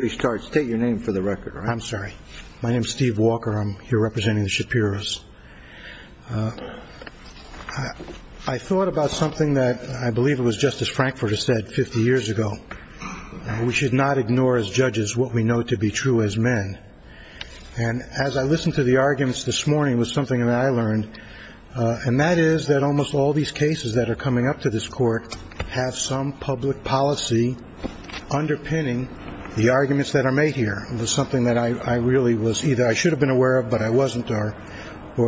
State your name for the record. I'm sorry. My name is Steve Walker. I'm here representing the Shapiros. I thought about something that I believe it was Justice Frankfurter said 50 years ago. We should not ignore as judges what we know to be true as men. And as I listened to the arguments this morning was something that I learned. And that is that almost all these cases that are coming up to this court have some public policy underpinning the arguments that are made here. It was something that I really was either I should have been aware of but I wasn't or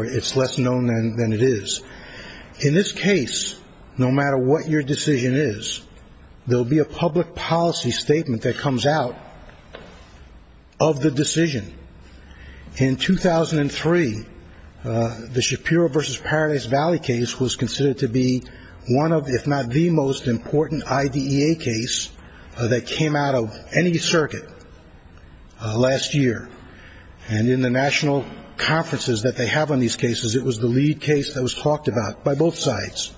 it's less known than it is. In this case, no matter what your decision is, there will be a public policy statement that comes out of the decision. In 2003, the Shapiro v. Paradise Valley case was considered to be one of if not the most important IDEA case that came out of any circuit last year. And in the national conferences that they have on these cases, it was the lead case that was talked about by both sides.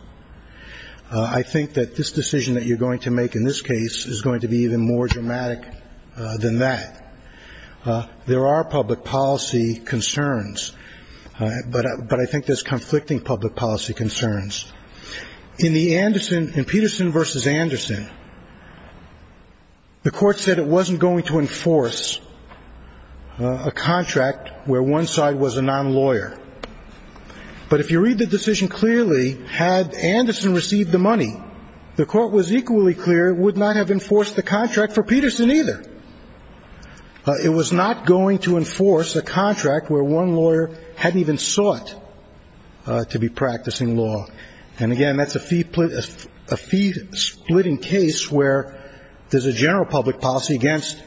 I think that this decision that you're going to make in this case is going to be even more dramatic than that. There are public policy concerns, but I think there's conflicting public policy concerns. In Peterson v. Anderson, the court said it wasn't going to enforce a contract where one side was a non-lawyer. But if you read the decision clearly, had Anderson received the money, the court was equally clear it would not have enforced the contract for Peterson either. It was not going to enforce a contract where one lawyer had even sought to be practicing law. And again, that's a fee splitting case where there's a general public policy against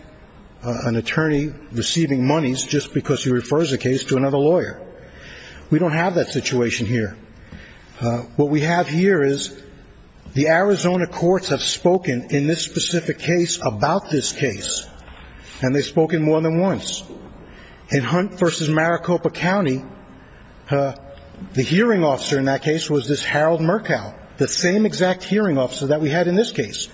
an attorney receiving monies just because he refers a case to another lawyer. We don't have that situation here. What we have here is the Arizona courts have spoken in this specific case about this case, and they've spoken more than once. In Hunt v. Maricopa County, the hearing officer in that case was this Harold Murkow, the same exact hearing officer that we had in this case.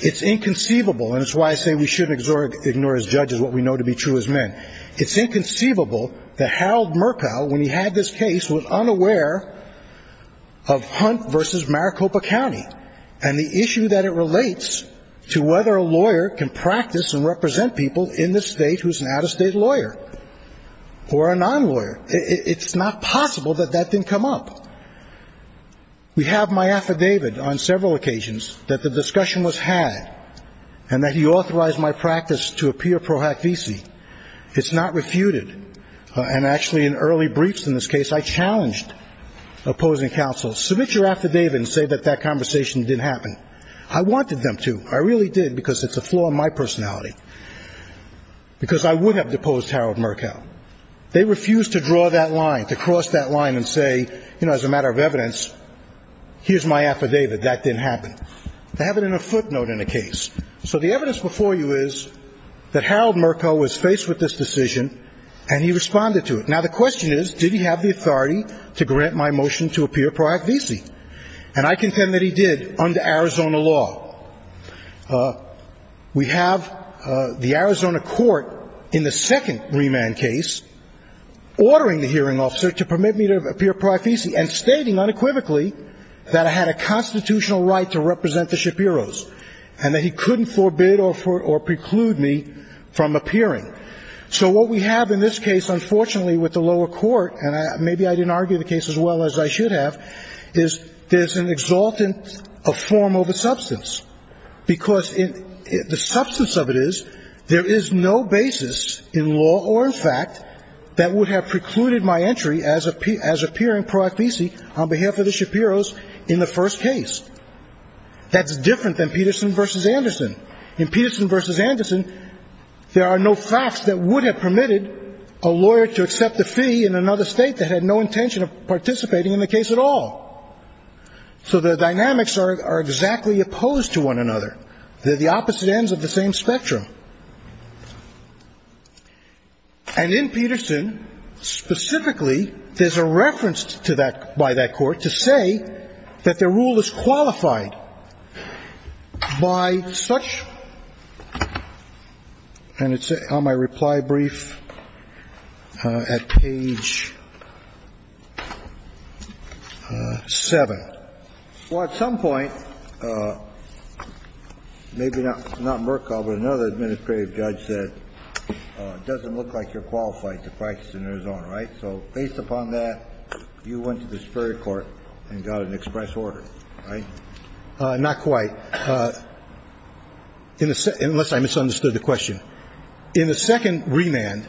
It's inconceivable, and it's why I say we shouldn't ignore as judges what we know to be true as men. It's inconceivable that Harold Murkow, when he had this case, was unaware of Hunt v. Maricopa County and the issue that it relates to whether a lawyer can practice and represent people in this state who's an out-of-state lawyer or a non-lawyer. It's not possible that that didn't come up. We have my affidavit on several occasions that the discussion was had and that he authorized my practice to appear pro hac visi. It's not refuted. And actually in early briefs in this case, I challenged opposing counsel, submit your affidavit and say that that conversation didn't happen. I wanted them to. I really did because it's a flaw in my personality, because I would have deposed Harold Murkow. They refused to draw that line, to cross that line and say, you know, as a matter of evidence, here's my affidavit, that didn't happen. They have it in a footnote in the case. So the evidence before you is that Harold Murkow was faced with this decision and he responded to it. Now, the question is, did he have the authority to grant my motion to appear pro hac visi? And I contend that he did under Arizona law. We have the Arizona court in the second remand case ordering the hearing officer to permit me to appear pro hac visi and stating unequivocally that I had a constitutional right to represent the Shapiros and that he couldn't forbid or preclude me from appearing. So what we have in this case, unfortunately, with the lower court, and maybe I didn't argue the case as well as I should have, is there's an exultant form of a substance, because the substance of it is there is no basis in law or in fact that would have precluded my entry as appearing pro hac visi on behalf of the Shapiros in the first case. That's different than Peterson v. Anderson. In Peterson v. Anderson, there are no facts that would have permitted a lawyer to accept a fee in another state that had no intention of participating in the case at all. So the dynamics are exactly opposed to one another. They're the opposite ends of the same spectrum. And in Peterson, specifically, there's a reference to that by that court to say that the rule is qualified by such And it's on my reply brief at page 7. Well, at some point, maybe not Merkel, but another administrative judge said, it doesn't look like you're qualified to practice in Arizona, right? So based upon that, you went to the Superior Court and got an express order, right? Not quite, unless I misunderstood the question. In the second remand,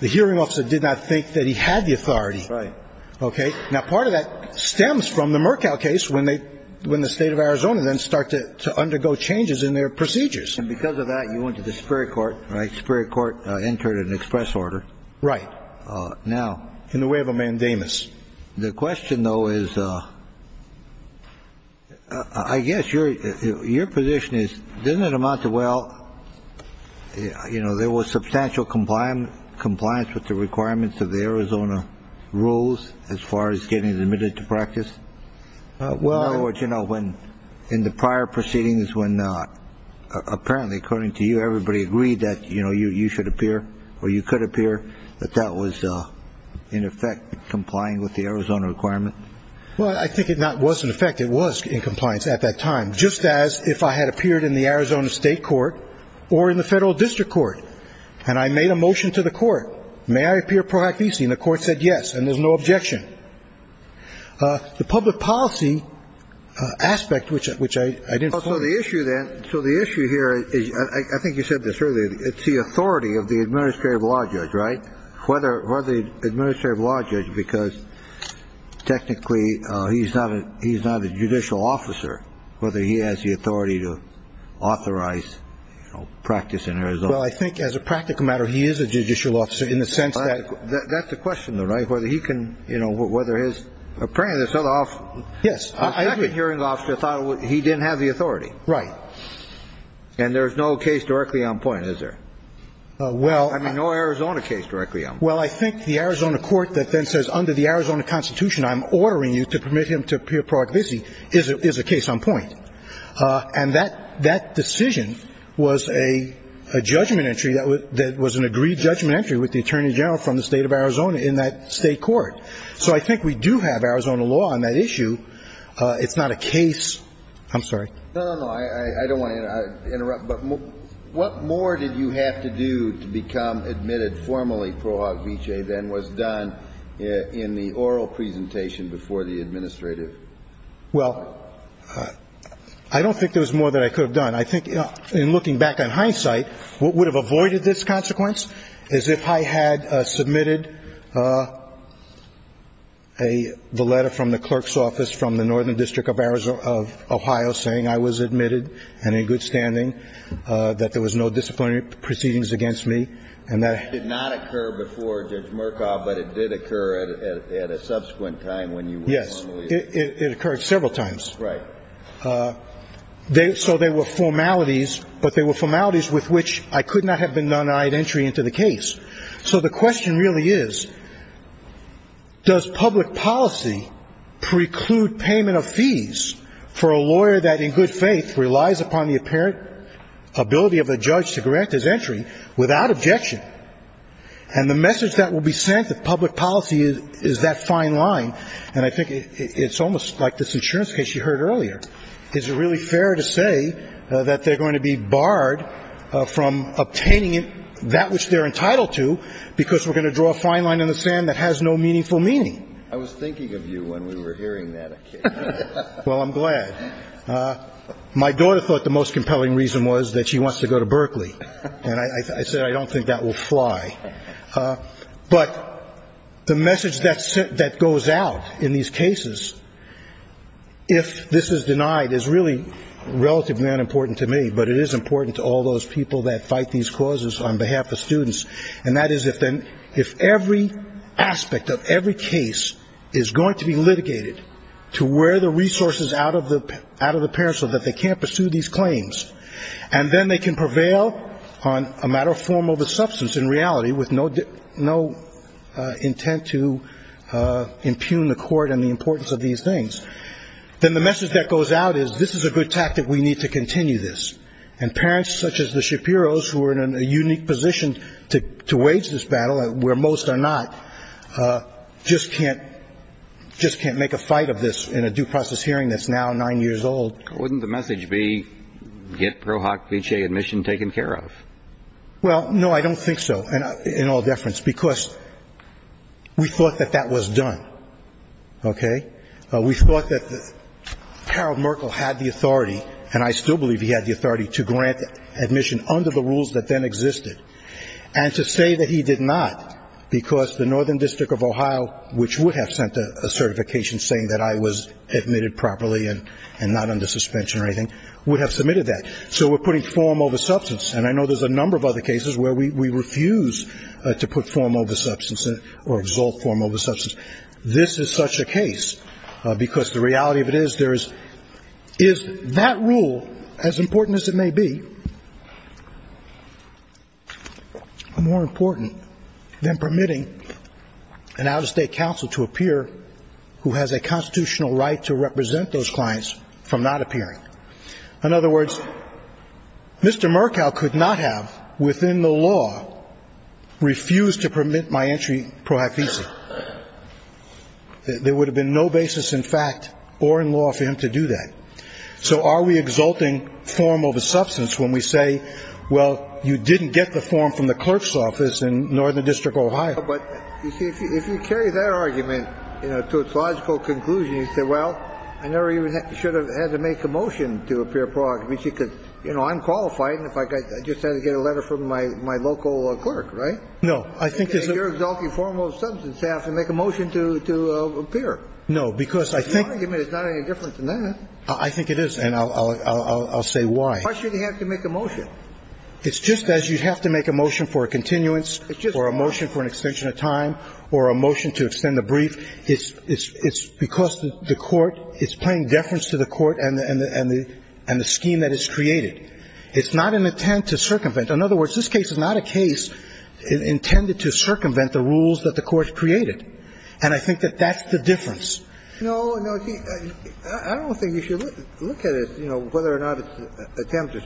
the hearing officer did not think that he had the authority. Right. Okay. Now, part of that stems from the Merkel case when the State of Arizona then started to undergo changes in their procedures. And because of that, you went to the Superior Court, right? Superior Court entered an express order. Right. Now, in the way of a mandamus. The question, though, is I guess your position is, doesn't it amount to, well, you know, there was substantial compliance with the requirements of the Arizona rules as far as getting admitted to practice? Well. In other words, you know, in the prior proceedings when apparently, according to you, everybody agreed that, you know, you should appear or you could appear, that that was, in effect, complying with the Arizona requirement? Well, I think it not was in effect. It was in compliance at that time, just as if I had appeared in the Arizona State Court or in the Federal District Court and I made a motion to the court, may I appear pro act visi, and the court said yes, and there's no objection. The public policy aspect, which I didn't. So the issue then. So the issue here is I think you said this earlier. It's the authority of the administrative law judge, right? Whether the administrative law judge, because technically he's not a he's not a judicial officer, whether he has the authority to authorize practice in Arizona. Well, I think as a practical matter, he is a judicial officer in the sense that. That's the question, though, right? Whether he can, you know, whether his apprentice. Yes. I agree. The hearing officer thought he didn't have the authority. Right. And there's no case directly on point, is there? Well. I mean, no Arizona case directly on point. Well, I think the Arizona court that then says under the Arizona Constitution, I'm ordering you to permit him to appear pro act visi, is a case on point. And that decision was a judgment entry that was an agreed judgment entry with the attorney general from the state of Arizona in that state court. So I think we do have Arizona law on that issue. It's not a case. I'm sorry. No, no, no. I don't want to interrupt. But what more did you have to do to become admitted formally pro act visi than was done in the oral presentation before the administrative? Well, I don't think there was more that I could have done. I think in looking back on hindsight, what would have avoided this consequence is if I had submitted a letter from the clerk's office from the northern district of Arizona, of Ohio, saying I was admitted and in good standing, that there was no disciplinary proceedings against me. And that did not occur before Judge Murkoff, but it did occur at a subsequent time when you were formally. Yes. It occurred several times. Right. So they were formalities, but they were formalities with which I could not have been denied entry into the case. So the question really is, does public policy preclude payment of fees for a lawyer that, in good faith, relies upon the apparent ability of a judge to grant his entry without objection? And the message that will be sent to public policy is that fine line. And I think it's almost like this insurance case you heard earlier. Is it really fair to say that they're going to be barred from obtaining that which they're entitled to because we're going to draw a fine line in the sand that has no meaningful meaning? I was thinking of you when we were hearing that. Well, I'm glad. My daughter thought the most compelling reason was that she wants to go to Berkeley, and I said I don't think that will fly. But the message that goes out in these cases, if this is denied, is really relatively unimportant to me, but it is important to all those people that fight these causes on behalf of students, and that is if every aspect of every case is going to be litigated to where the resources out of the parents are that they can't pursue these claims, and then they can prevail on a matter of form over substance in reality with no intent to impugn the court and the importance of these things, then the message that goes out is this is a good tactic. We need to continue this. And parents such as the Shapiros, who are in a unique position to wage this battle where most are not, just can't make a fight of this in a due process hearing that's now nine years old. Wouldn't the message be get ProHoc PHA admission taken care of? Well, no, I don't think so, in all deference, because we thought that that was done, okay? We thought that Harold Merkel had the authority, and I still believe he had the authority, to grant admission under the rules that then existed, and to say that he did not because the Northern District of Ohio, which would have sent a certification saying that I was admitted properly and not under suspension or anything, would have submitted that. So we're putting form over substance. And I know there's a number of other cases where we refuse to put form over substance or exalt form over substance. This is such a case because the reality of it is there is that rule, as important as it may be, more important than permitting an out-of-state counsel to appear who has a constitutional right to represent those clients from not appearing. In other words, Mr. Merkel could not have, within the law, refused to permit my entry ProHoc ESA. There would have been no basis in fact or in law for him to do that. So are we exalting form over substance when we say, well, you didn't get the form from the clerk's office in Northern District of Ohio? But, you see, if you carry that argument to its logical conclusion, you say, well, I never even should have had to make a motion to appear ProHoc ESA because, you know, I'm qualified, and if I just had to get a letter from my local clerk, right? No. I think it's a ---- You're exalting form over substance. You have to make a motion to appear. No, because I think ---- The argument is not any different than that. Why should he have to make a motion? It's just as you have to make a motion for a continuance or a motion for an extension of time or a motion to extend the brief. It's because the Court is paying deference to the Court and the scheme that it's created. It's not an attempt to circumvent. In other words, this case is not a case intended to circumvent the rules that the Court created, and I think that that's the difference. No, no. I don't think you should look at it, you know, whether or not it's an attempt to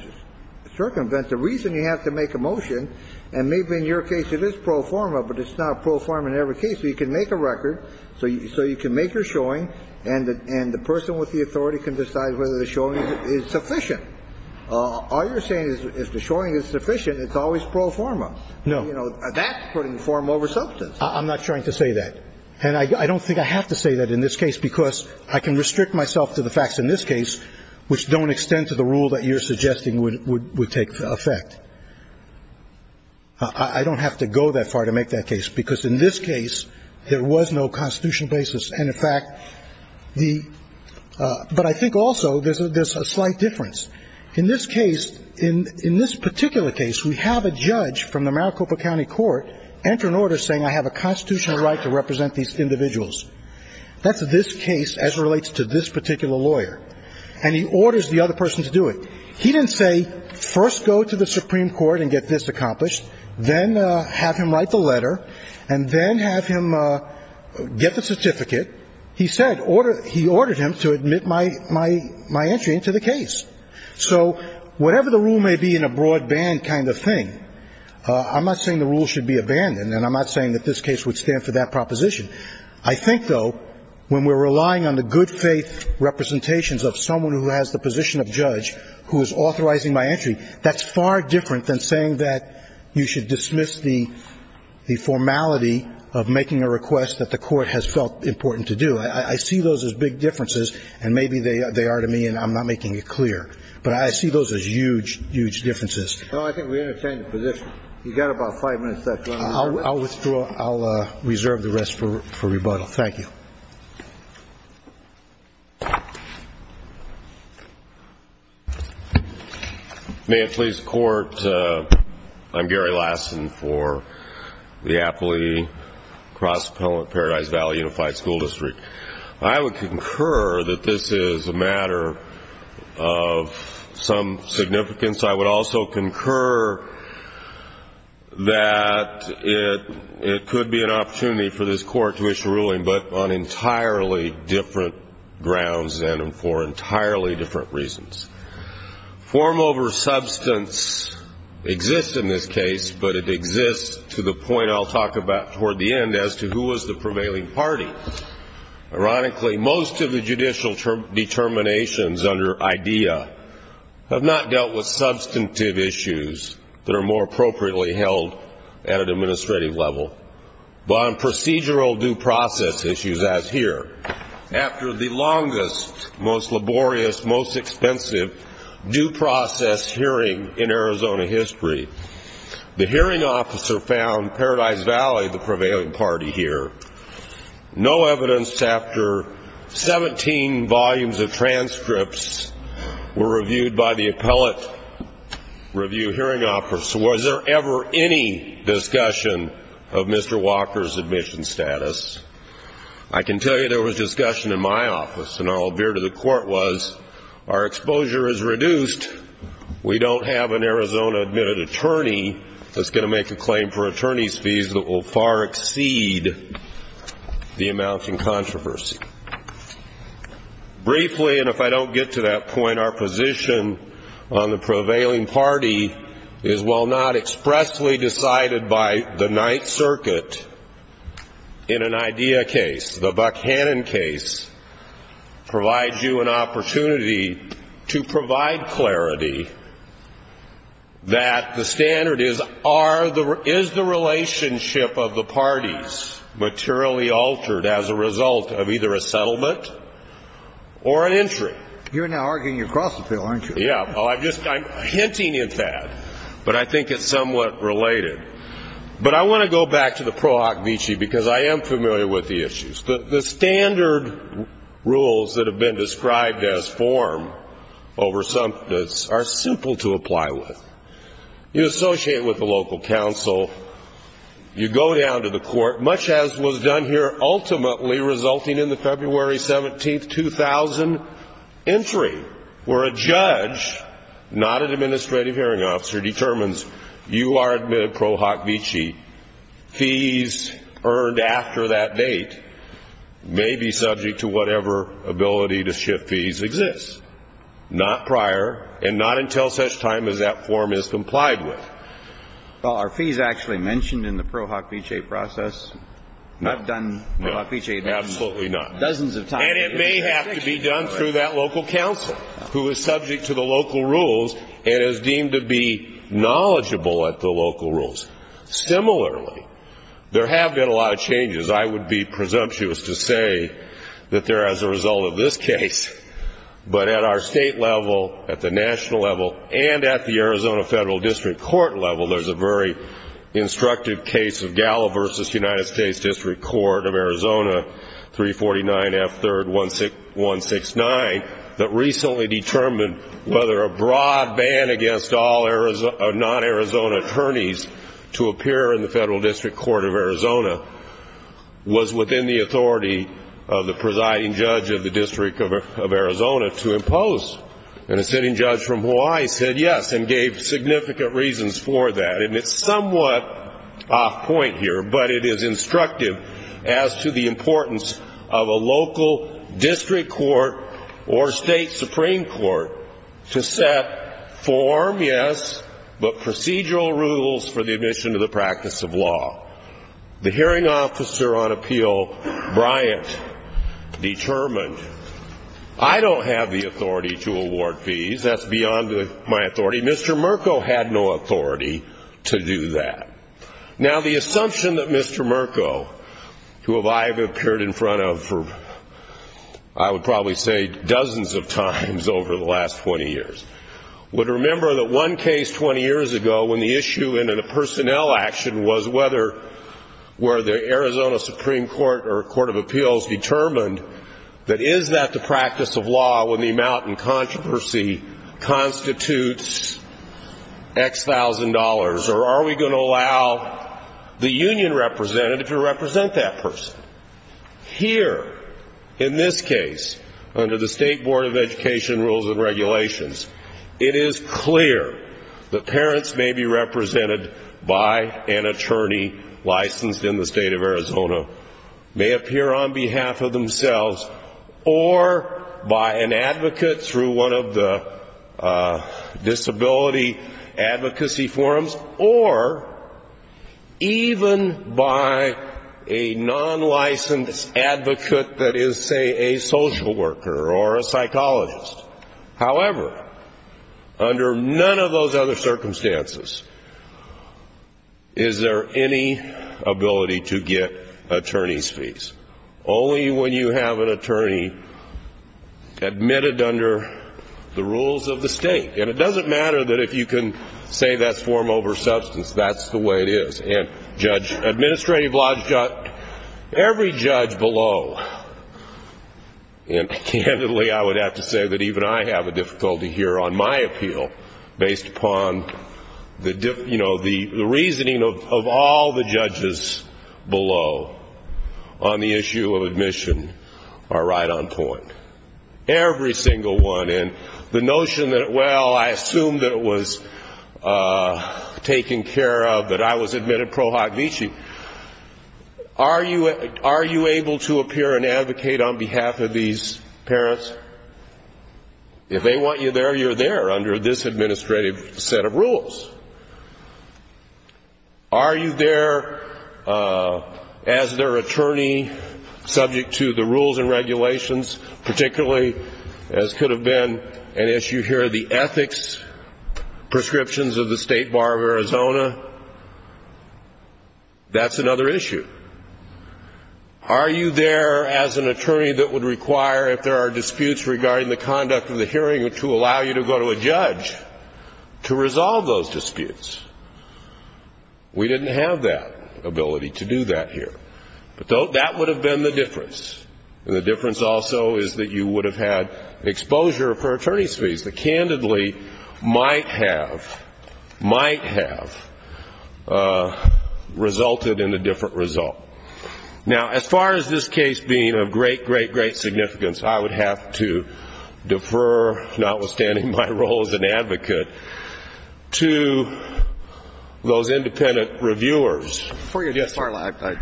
circumvent. The reason you have to make a motion, and maybe in your case it is pro forma, but it's not pro forma in every case, so you can make a record, so you can make your showing, and the person with the authority can decide whether the showing is sufficient. All you're saying is if the showing is sufficient, it's always pro forma. No. You know, that's putting form over substance. I'm not trying to say that. And I don't think I have to say that in this case, because I can restrict myself to the facts in this case, which don't extend to the rule that you're suggesting would take effect. I don't have to go that far to make that case, because in this case, there was no constitutional basis. And, in fact, the – but I think also there's a slight difference. In this case, in this particular case, we have a judge from the Maricopa County Court enter an order saying I have a constitutional right to represent these individuals. That's this case as it relates to this particular lawyer. And he orders the other person to do it. He didn't say first go to the Supreme Court and get this accomplished, then have him write the letter, and then have him get the certificate. He said – he ordered him to admit my entry into the case. So whatever the rule may be in a broadband kind of thing, I'm not saying the rule should be abandoned, and I'm not saying that this case would stand for that proposition. I think, though, when we're relying on the good faith representations of someone who has the position of judge who is authorizing my entry, that's far different than saying that you should dismiss the formality of making a request that the court has felt important to do. I see those as big differences, and maybe they are to me, and I'm not making it clear. But I see those as huge, huge differences. Well, I think we understand the position. You've got about five minutes left. I'll withdraw. I'll reserve the rest for rebuttal. Thank you. May it please the Court, I'm Gary Lassen for the Apley Cross-Paradise Valley Unified School District. I would concur that this is a matter of some significance. I would also concur that it could be an opportunity for this Court to issue a ruling, but on entirely different grounds and for entirely different reasons. Form over substance exists in this case, but it exists to the point I'll talk about toward the end as to who was the prevailing party. Ironically, most of the judicial determinations under IDEA have not dealt with substantive issues that are more appropriately held at an administrative level, but on procedural due process issues as here. After the longest, most laborious, most expensive due process hearing in Arizona history, the no evidence chapter 17 volumes of transcripts were reviewed by the Appellate Review Hearing Office. So was there ever any discussion of Mr. Walker's admission status? I can tell you there was discussion in my office, and I'll veer to the court, was our exposure is reduced. We don't have an Arizona-admitted attorney that's going to make a claim for attorney's that will far exceed the amount in controversy. Briefly, and if I don't get to that point, our position on the prevailing party is, while not expressly decided by the Ninth Circuit in an IDEA case, the Buck-Hannon case provides you an opportunity to provide clarity that the standard is, are the, is the relationship of the parties materially altered as a result of either a settlement or an entry? You're now arguing across the field, aren't you? Yeah. Well, I'm just, I'm hinting at that, but I think it's somewhat related. But I want to go back to the pro hoc vici because I am familiar with the issues. The standard rules that have been described as form over something that's, are simple to apply with. You associate with the local council. You go down to the court, much as was done here ultimately resulting in the February 17, 2000 entry, where a judge, not an administrative hearing officer, determines you are admitted pro hoc vici. The fees earned after that date may be subject to whatever ability to shift fees exists, not prior and not until such time as that form is complied with. Well, are fees actually mentioned in the pro hoc vici process? No. Not done pro hoc vici. Absolutely not. Dozens of times. And it may have to be done through that local council who is subject to the local rules and is deemed to be knowledgeable at the local rules. Similarly, there have been a lot of changes. I would be presumptuous to say that they're as a result of this case. But at our state level, at the national level, and at the Arizona Federal District Court level, there's a very instructive case of Galla versus United States District Court of Arizona, 349 F. 3rd 169, that recently determined whether a broad ban against all non-Arizona attorneys to appear in the Federal District Court of Arizona was within the authority of the presiding judge of the District of Arizona to impose. And a sitting judge from Hawaii said yes and gave significant reasons for that. And it's somewhat off point here, but it is instructive as to the importance of a local district or state Supreme Court to set form, yes, but procedural rules for the admission to the practice of law. The hearing officer on appeal, Bryant, determined I don't have the authority to award fees. That's beyond my authority. Mr. Merko had no authority to do that. Now, the assumption that Mr. Merko, who I have appeared in front of, I would probably say, dozens of times over the last 20 years, would remember that one case 20 years ago when the issue in a personnel action was whether the Arizona Supreme Court or Court of Appeals determined that is that the practice of law when the amount in controversy constitutes X thousand dollars, or are we going to allow the union representative to represent that person? Here, in this case, under the State Board of Education rules and regulations, it is clear that parents may be represented by an attorney licensed in the state of Arizona, may appear on behalf of themselves, or by an advocate through one of the disability advocacy forums, or even by a non-licensed advocate that is, say, a social worker or a psychologist. However, under none of those other circumstances is there any ability to get attorney's fees, only when you have an attorney admitted under the rules of the state. And it doesn't matter that if you can say that's form over substance, that's the way it is. And Judge Administrative Lodge got every judge below. And candidly, I would have to say that even I have a difficulty here on my appeal, based upon the reasoning of all the judges below on the issue of admission are right on point. Every single one. And the notion that, well, I assume that it was taken care of, that I was admitted pro hoc vici. Are you able to appear and advocate on behalf of these parents? If they want you there, you're there under this administrative set of rules. Are you there as their attorney subject to the rules and regulations, particularly, as could have been an issue here, the ethics prescriptions of the State Bar of Arizona? That's another issue. Are you there as an attorney that would require, if there are disputes regarding the conduct of the hearing, to allow you to go to a judge to resolve those disputes? We didn't have that ability to do that here. But that would have been the difference. And the difference also is that you would have had exposure for attorney's fees that candidly might have, might have resulted in a different result. Now, as far as this case being of great, great, great significance, I would have to defer, notwithstanding my role as an advocate, to those independent reviewers. Before you get started,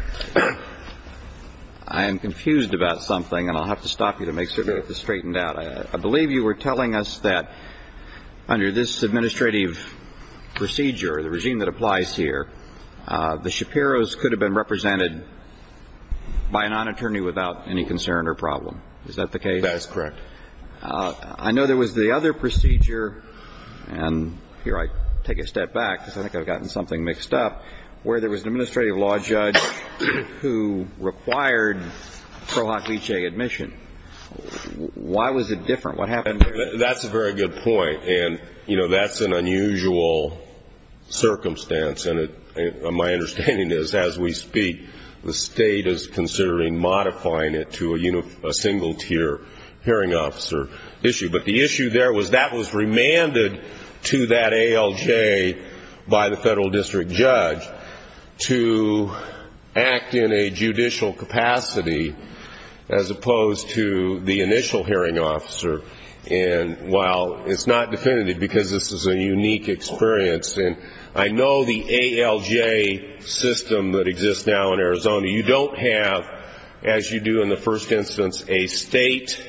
I am confused about something, and I'll have to stop you to make sure that this is straightened out. I believe you were telling us that under this administrative procedure, the regime that applies here, the Shapiros could have been represented by a non-attorney without any concern or problem. Is that the case? That is correct. I know there was the other procedure, and here I take a step back, because I think I've gotten something mixed up, where there was an administrative law judge who required Pro Hoc Lice admission. Why was it different? What happened here? That's a very good point. And, you know, that's an unusual circumstance. And my understanding is, as we speak, the state is considering modifying it to a single-tier hearing officer issue. But the issue there was that was remanded to that ALJ by the federal district judge to act in a judicial capacity, as opposed to the initial hearing officer. And while it's not definitive, because this is a unique experience, and I know the ALJ system that exists now in Arizona, you don't have, as you do in the first instance, a state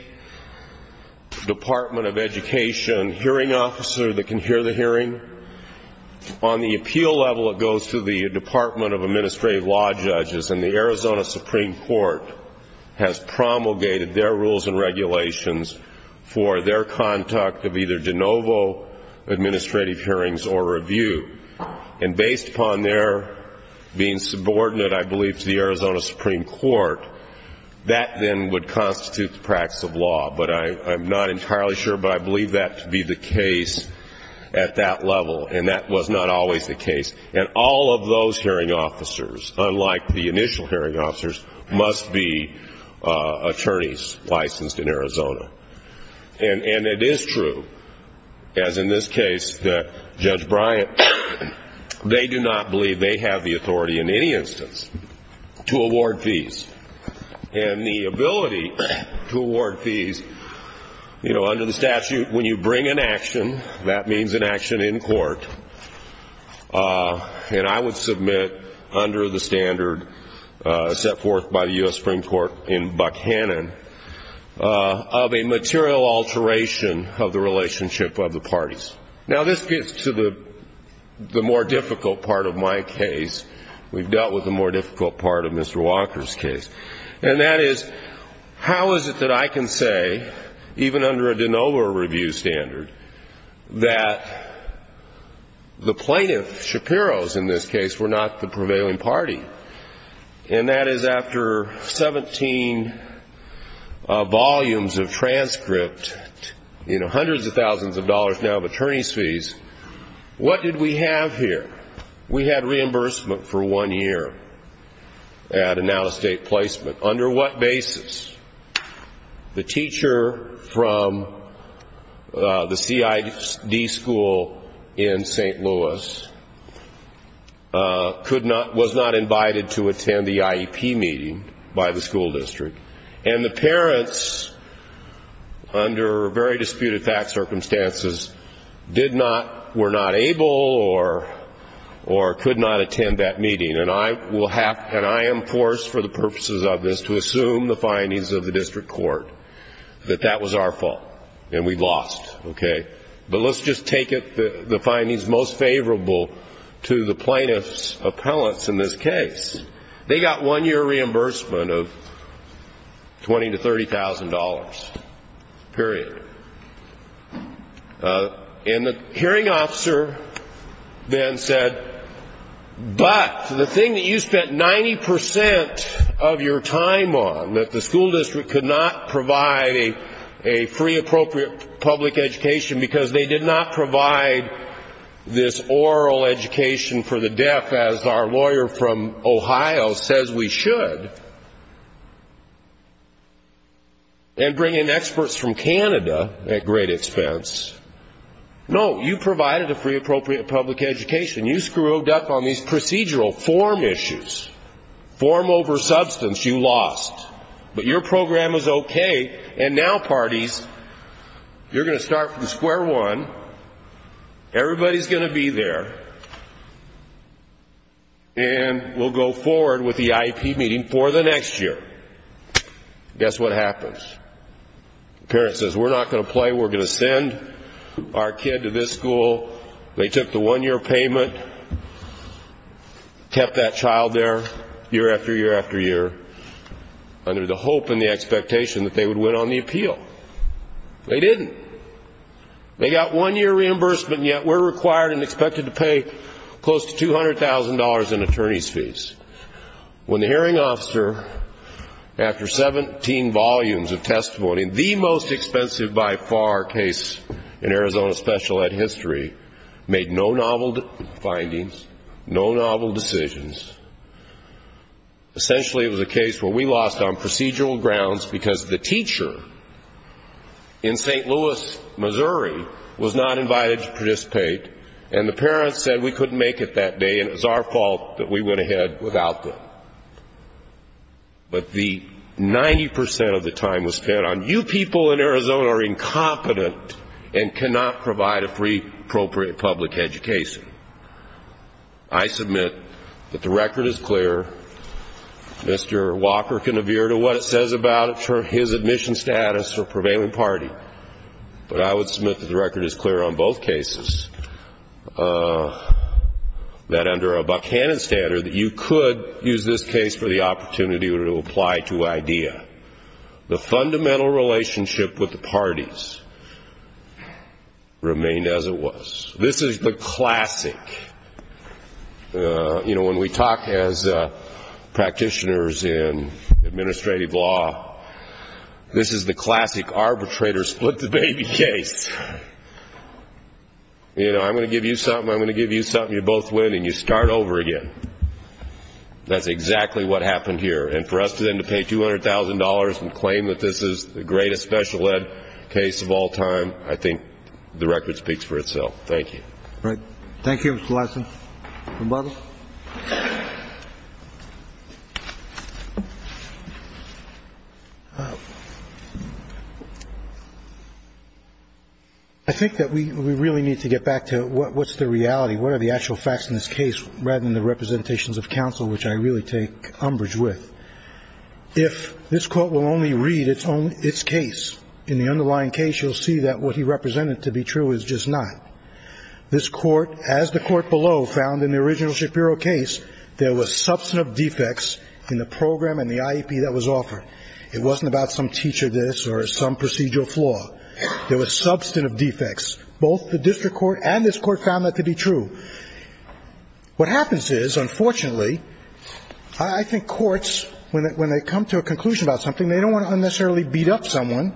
Department of Education hearing officer that can hear the hearing. On the appeal level, it goes to the Department of Administrative Law Judges, and the Arizona Supreme Court has promulgated their rules and regulations for their conduct of either de novo administrative hearings or review. And based upon their being subordinate, I believe, to the Arizona Supreme Court, that then would constitute the practice of law. But I'm not entirely sure, but I believe that to be the case at that level, and that was not always the case. And all of those hearing officers, unlike the initial hearing officers, must be attorneys licensed in Arizona. And it is true, as in this case, that Judge Bryant, they do not believe they have the authority in any instance to award fees. And the ability to award fees, you know, under the statute, when you bring an action, that means an action in court, and I would submit under the standard set forth by the U.S. Supreme Court in Buckhannon, of a material alteration of the relationship of the parties. Now, this gets to the more difficult part of my case. We've dealt with the more difficult part of Mr. Walker's case. And that is, how is it that I can say, even under a de novo review standard, that the plaintiff, Shapiro's in this case, were not the prevailing party? And that is after 17 volumes of transcript, you know, hundreds of thousands of dollars now of attorney's fees, what did we have here? We had reimbursement for one year at an out-of-state placement. Under what basis? The teacher from the CID school in St. Louis was not invited to attend the IEP meeting by the school district. And the parents, under very disputed fact circumstances, were not able or could not attend that meeting. And I am forced for the purposes of this to assume the findings of the district court that that was our fault and we lost. Okay? But let's just take the findings most favorable to the plaintiff's appellants in this case. They got one-year reimbursement of $20,000 to $30,000, period. And the hearing officer then said, but the thing that you spent 90 percent of your time on, that the school district could not provide a free appropriate public education because they did not provide this oral education for the deaf, as our lawyer from Ohio says we should, and bring in experts from Canada at great expense. No, you provided a free appropriate public education. You screwed up on these procedural form issues. Form over substance, you lost. But your program is okay, and now, parties, you're going to start from square one. Everybody's going to be there, and we'll go forward with the IEP meeting for the next year. Guess what happens? The parent says, we're not going to play. We're going to send our kid to this school. They took the one-year payment, kept that child there year after year after year, under the hope and the expectation that they would win on the appeal. They didn't. They got one-year reimbursement, and yet we're required and expected to pay close to $200,000 in attorney's fees. When the hearing officer, after 17 volumes of testimony, the most expensive by far case in Arizona special ed history, made no novel findings, no novel decisions, essentially it was a case where we lost on procedural grounds because the teacher in St. Louis, Missouri, was not invited to participate, and the parents said we couldn't make it that day, and it was our fault that we went ahead without them. But the 90% of the time was spent on you people in Arizona are incompetent and cannot provide a free appropriate public education. I submit that the record is clear. Mr. Walker can adhere to what it says about his admission status for prevailing party, but I would submit that the record is clear on both cases, that under a Buchanan standard, you could use this case for the opportunity to apply to IDEA. The fundamental relationship with the parties remained as it was. This is the classic. You know, when we talk as practitioners in administrative law, this is the classic arbitrator split the baby case. You know, I'm going to give you something, I'm going to give you something, you both win, and you start over again. That's exactly what happened here. And for us then to pay $200,000 and claim that this is the greatest special ed case of all time, I think the record speaks for itself. Thank you. All right. Thank you, Mr. Lassner. Mr. Butler. I think that we really need to get back to what's the reality, what are the actual facts in this case, rather than the representations of counsel, which I really take umbrage with. If this Court will only read its case, in the underlying case, you'll see that what he represented to be true is just not. This Court, as the Court below found in the original Shapiro case, there was substantive defects in the program and the IEP that was offered. It wasn't about some teacher this or some procedural flaw. There was substantive defects. Both the district court and this Court found that to be true. What happens is, unfortunately, I think courts, when they come to a conclusion about something, they don't want to unnecessarily beat up someone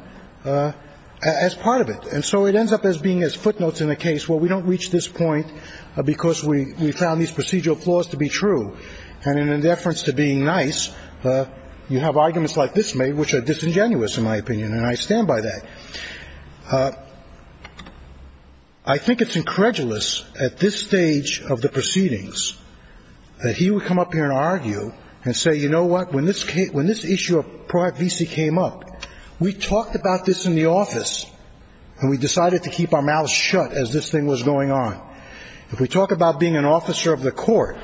as part of it. And so it ends up as being as footnotes in a case, well, we don't reach this point because we found these procedural flaws to be true. And in deference to being nice, you have arguments like this made, which are disingenuous in my opinion, and I stand by that. I think it's incredulous at this stage of the proceedings that he would come up here and argue and say, you know what, when this issue of private visa came up, we talked about this in the office and we decided to keep our mouths shut as this thing was going on. If we talk about being an officer of the Court,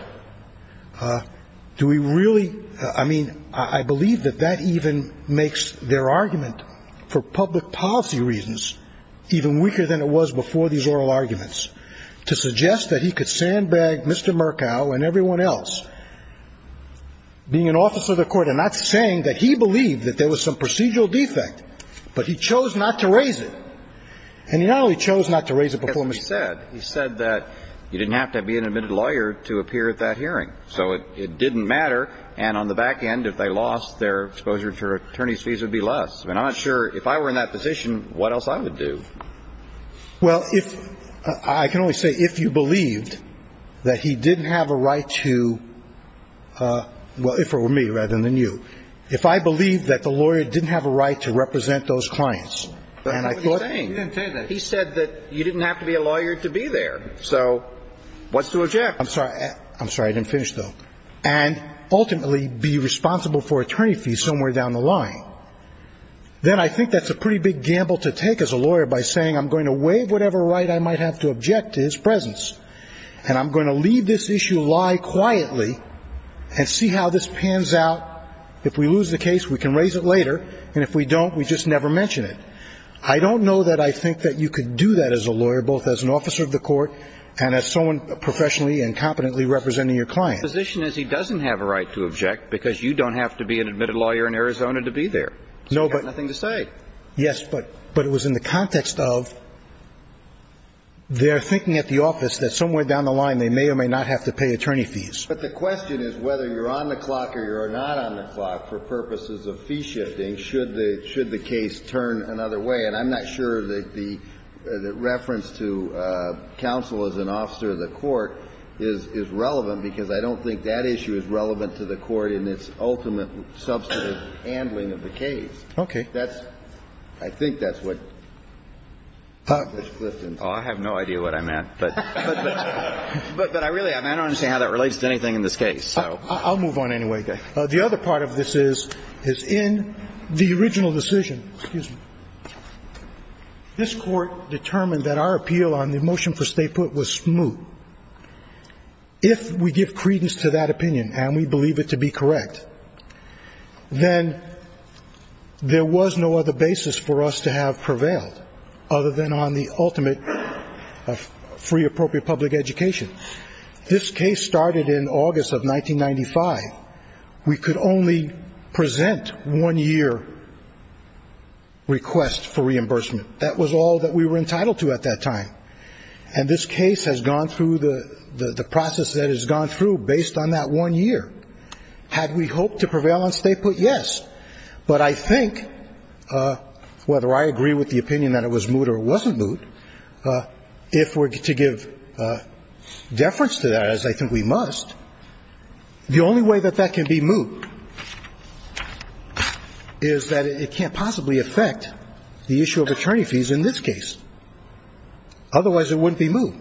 do we really ‑‑ I mean, I believe that that even makes their argument for public policy reasons even weaker than it was before these oral arguments, to suggest that he could sandbag Mr. Murkow and everyone else being an officer of the Court and not saying that he believed that there was some procedural defect, but he chose not to raise it. And he not only chose not to raise it before Mr. Murkow. He said that you didn't have to be an admitted lawyer to appear at that hearing. So it didn't matter. And on the back end, if they lost their exposure to attorney's fees, it would be less. I mean, I'm not sure if I were in that position, what else I would do. Well, if ‑‑ I can only say if you believed that he didn't have a right to ‑‑ well, if it were me rather than you. If I believed that the lawyer didn't have a right to represent those clients, and I thought ‑‑ But he didn't say that. He said that you didn't have to be a lawyer to be there. So what's to object? I'm sorry. I'm sorry. I didn't finish, though. And ultimately be responsible for attorney fees somewhere down the line. Then I think that's a pretty big gamble to take as a lawyer by saying, I'm going to waive whatever right I might have to object to his presence. And I'm going to leave this issue lie quietly and see how this pans out. If we lose the case, we can raise it later. And if we don't, we just never mention it. I don't know that I think that you could do that as a lawyer, both as an officer of the court and as someone professionally and competently representing your client. My position is he doesn't have a right to object, because you don't have to be an admitted lawyer in Arizona to be there. You have nothing to say. Yes, but it was in the context of their thinking at the office that somewhere down the line they may or may not have to pay attorney fees. But the question is whether you're on the clock or you're not on the clock for purposes of fee shifting should the case turn another way. And I'm not sure that the reference to counsel as an officer of the court is relevant because I don't think that issue is relevant to the court in its ultimate substantive handling of the case. Okay. That's – I think that's what Ms. Clifton said. Oh, I have no idea what I meant. But I really – I don't understand how that relates to anything in this case. I'll move on anyway. Okay. The other part of this is, is in the original decision, excuse me, this Court determined that our appeal on the motion for State foot was smooth. If we give credence to that opinion and we believe it to be correct, then there was no other basis for us to have prevailed other than on the ultimate free appropriate public education. This case started in August of 1995. We could only present one year request for reimbursement. That was all that we were entitled to at that time. And this case has gone through the process that it's gone through based on that one year. Had we hoped to prevail on State foot? Yes. But I think, whether I agree with the opinion that it was moot or it wasn't moot, if we're to give deference to that, as I think we must, the only way that that can be moot is that it can't possibly affect the issue of attorney fees in this case. Otherwise, it wouldn't be moot.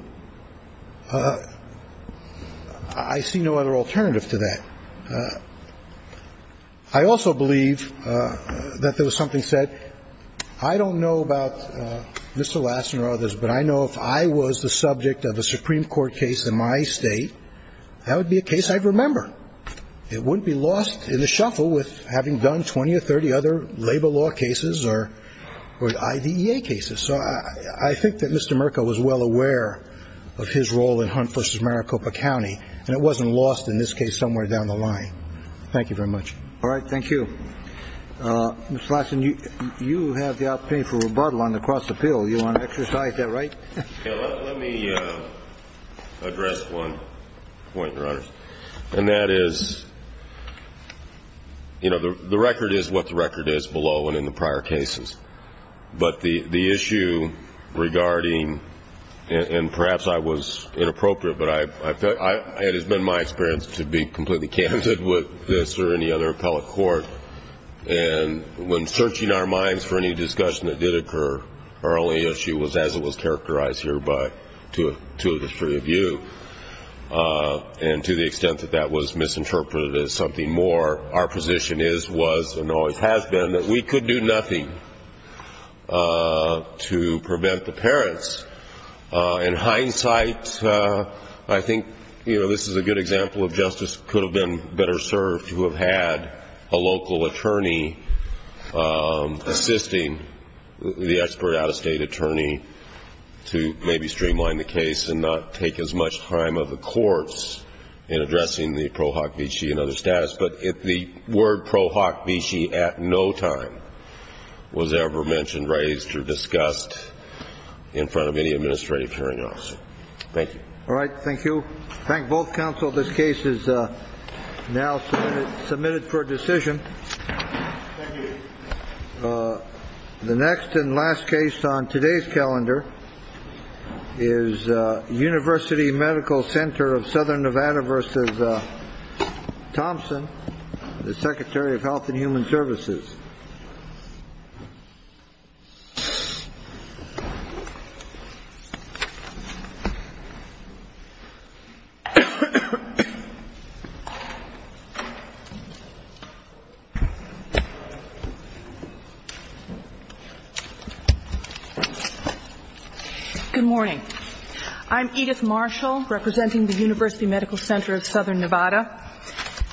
I see no other alternative to that. I also believe that there was something said, I don't know about Mr. Lassen or others, but I know if I was the subject of a Supreme Court case in my State, that would be a case I'd remember. It wouldn't be lost in the shuffle with having done 20 or 30 other labor law cases or IDEA cases. So I think that Mr. Mirka was well aware of his role in Hunt v. Maricopa County, and it wasn't lost in this case somewhere down the line. Thank you very much. All right. Thank you. Mr. Lassen, you have the opportunity for rebuttal on the cross appeal. You want to exercise that right? Let me address one point, Your Honor, and that is, you know, the record is what the record is below and in the prior cases. But the issue regarding, and perhaps I was inappropriate, but it has been my experience to be completely candid with this or any other appellate court, and when searching our minds for any discussion that did occur, our only issue was as it was characterized here by two of the three of you. And to the extent that that was misinterpreted as something more, our position is, was, and always has been that we could do nothing to prevent the parents. In hindsight, I think, you know, this is a good example of justice could have been better served to have had a local attorney assisting the expert out-of-state attorney to maybe streamline the case and not take as much time of the courts in addressing the pro hoc vici and other status. But if the word pro hoc vici at no time was ever mentioned, raised, or discussed in front of any administrative hearing officer. Thank you. All right. Thank you. Thank both counsel. This case is now submitted for decision. Thank you. The next and last case on today's calendar is University Medical Center of Southern Nevada versus Thompson, the secretary of health and human services. Good morning. I'm Edith Marshall, representing the University Medical Center of Southern Nevada.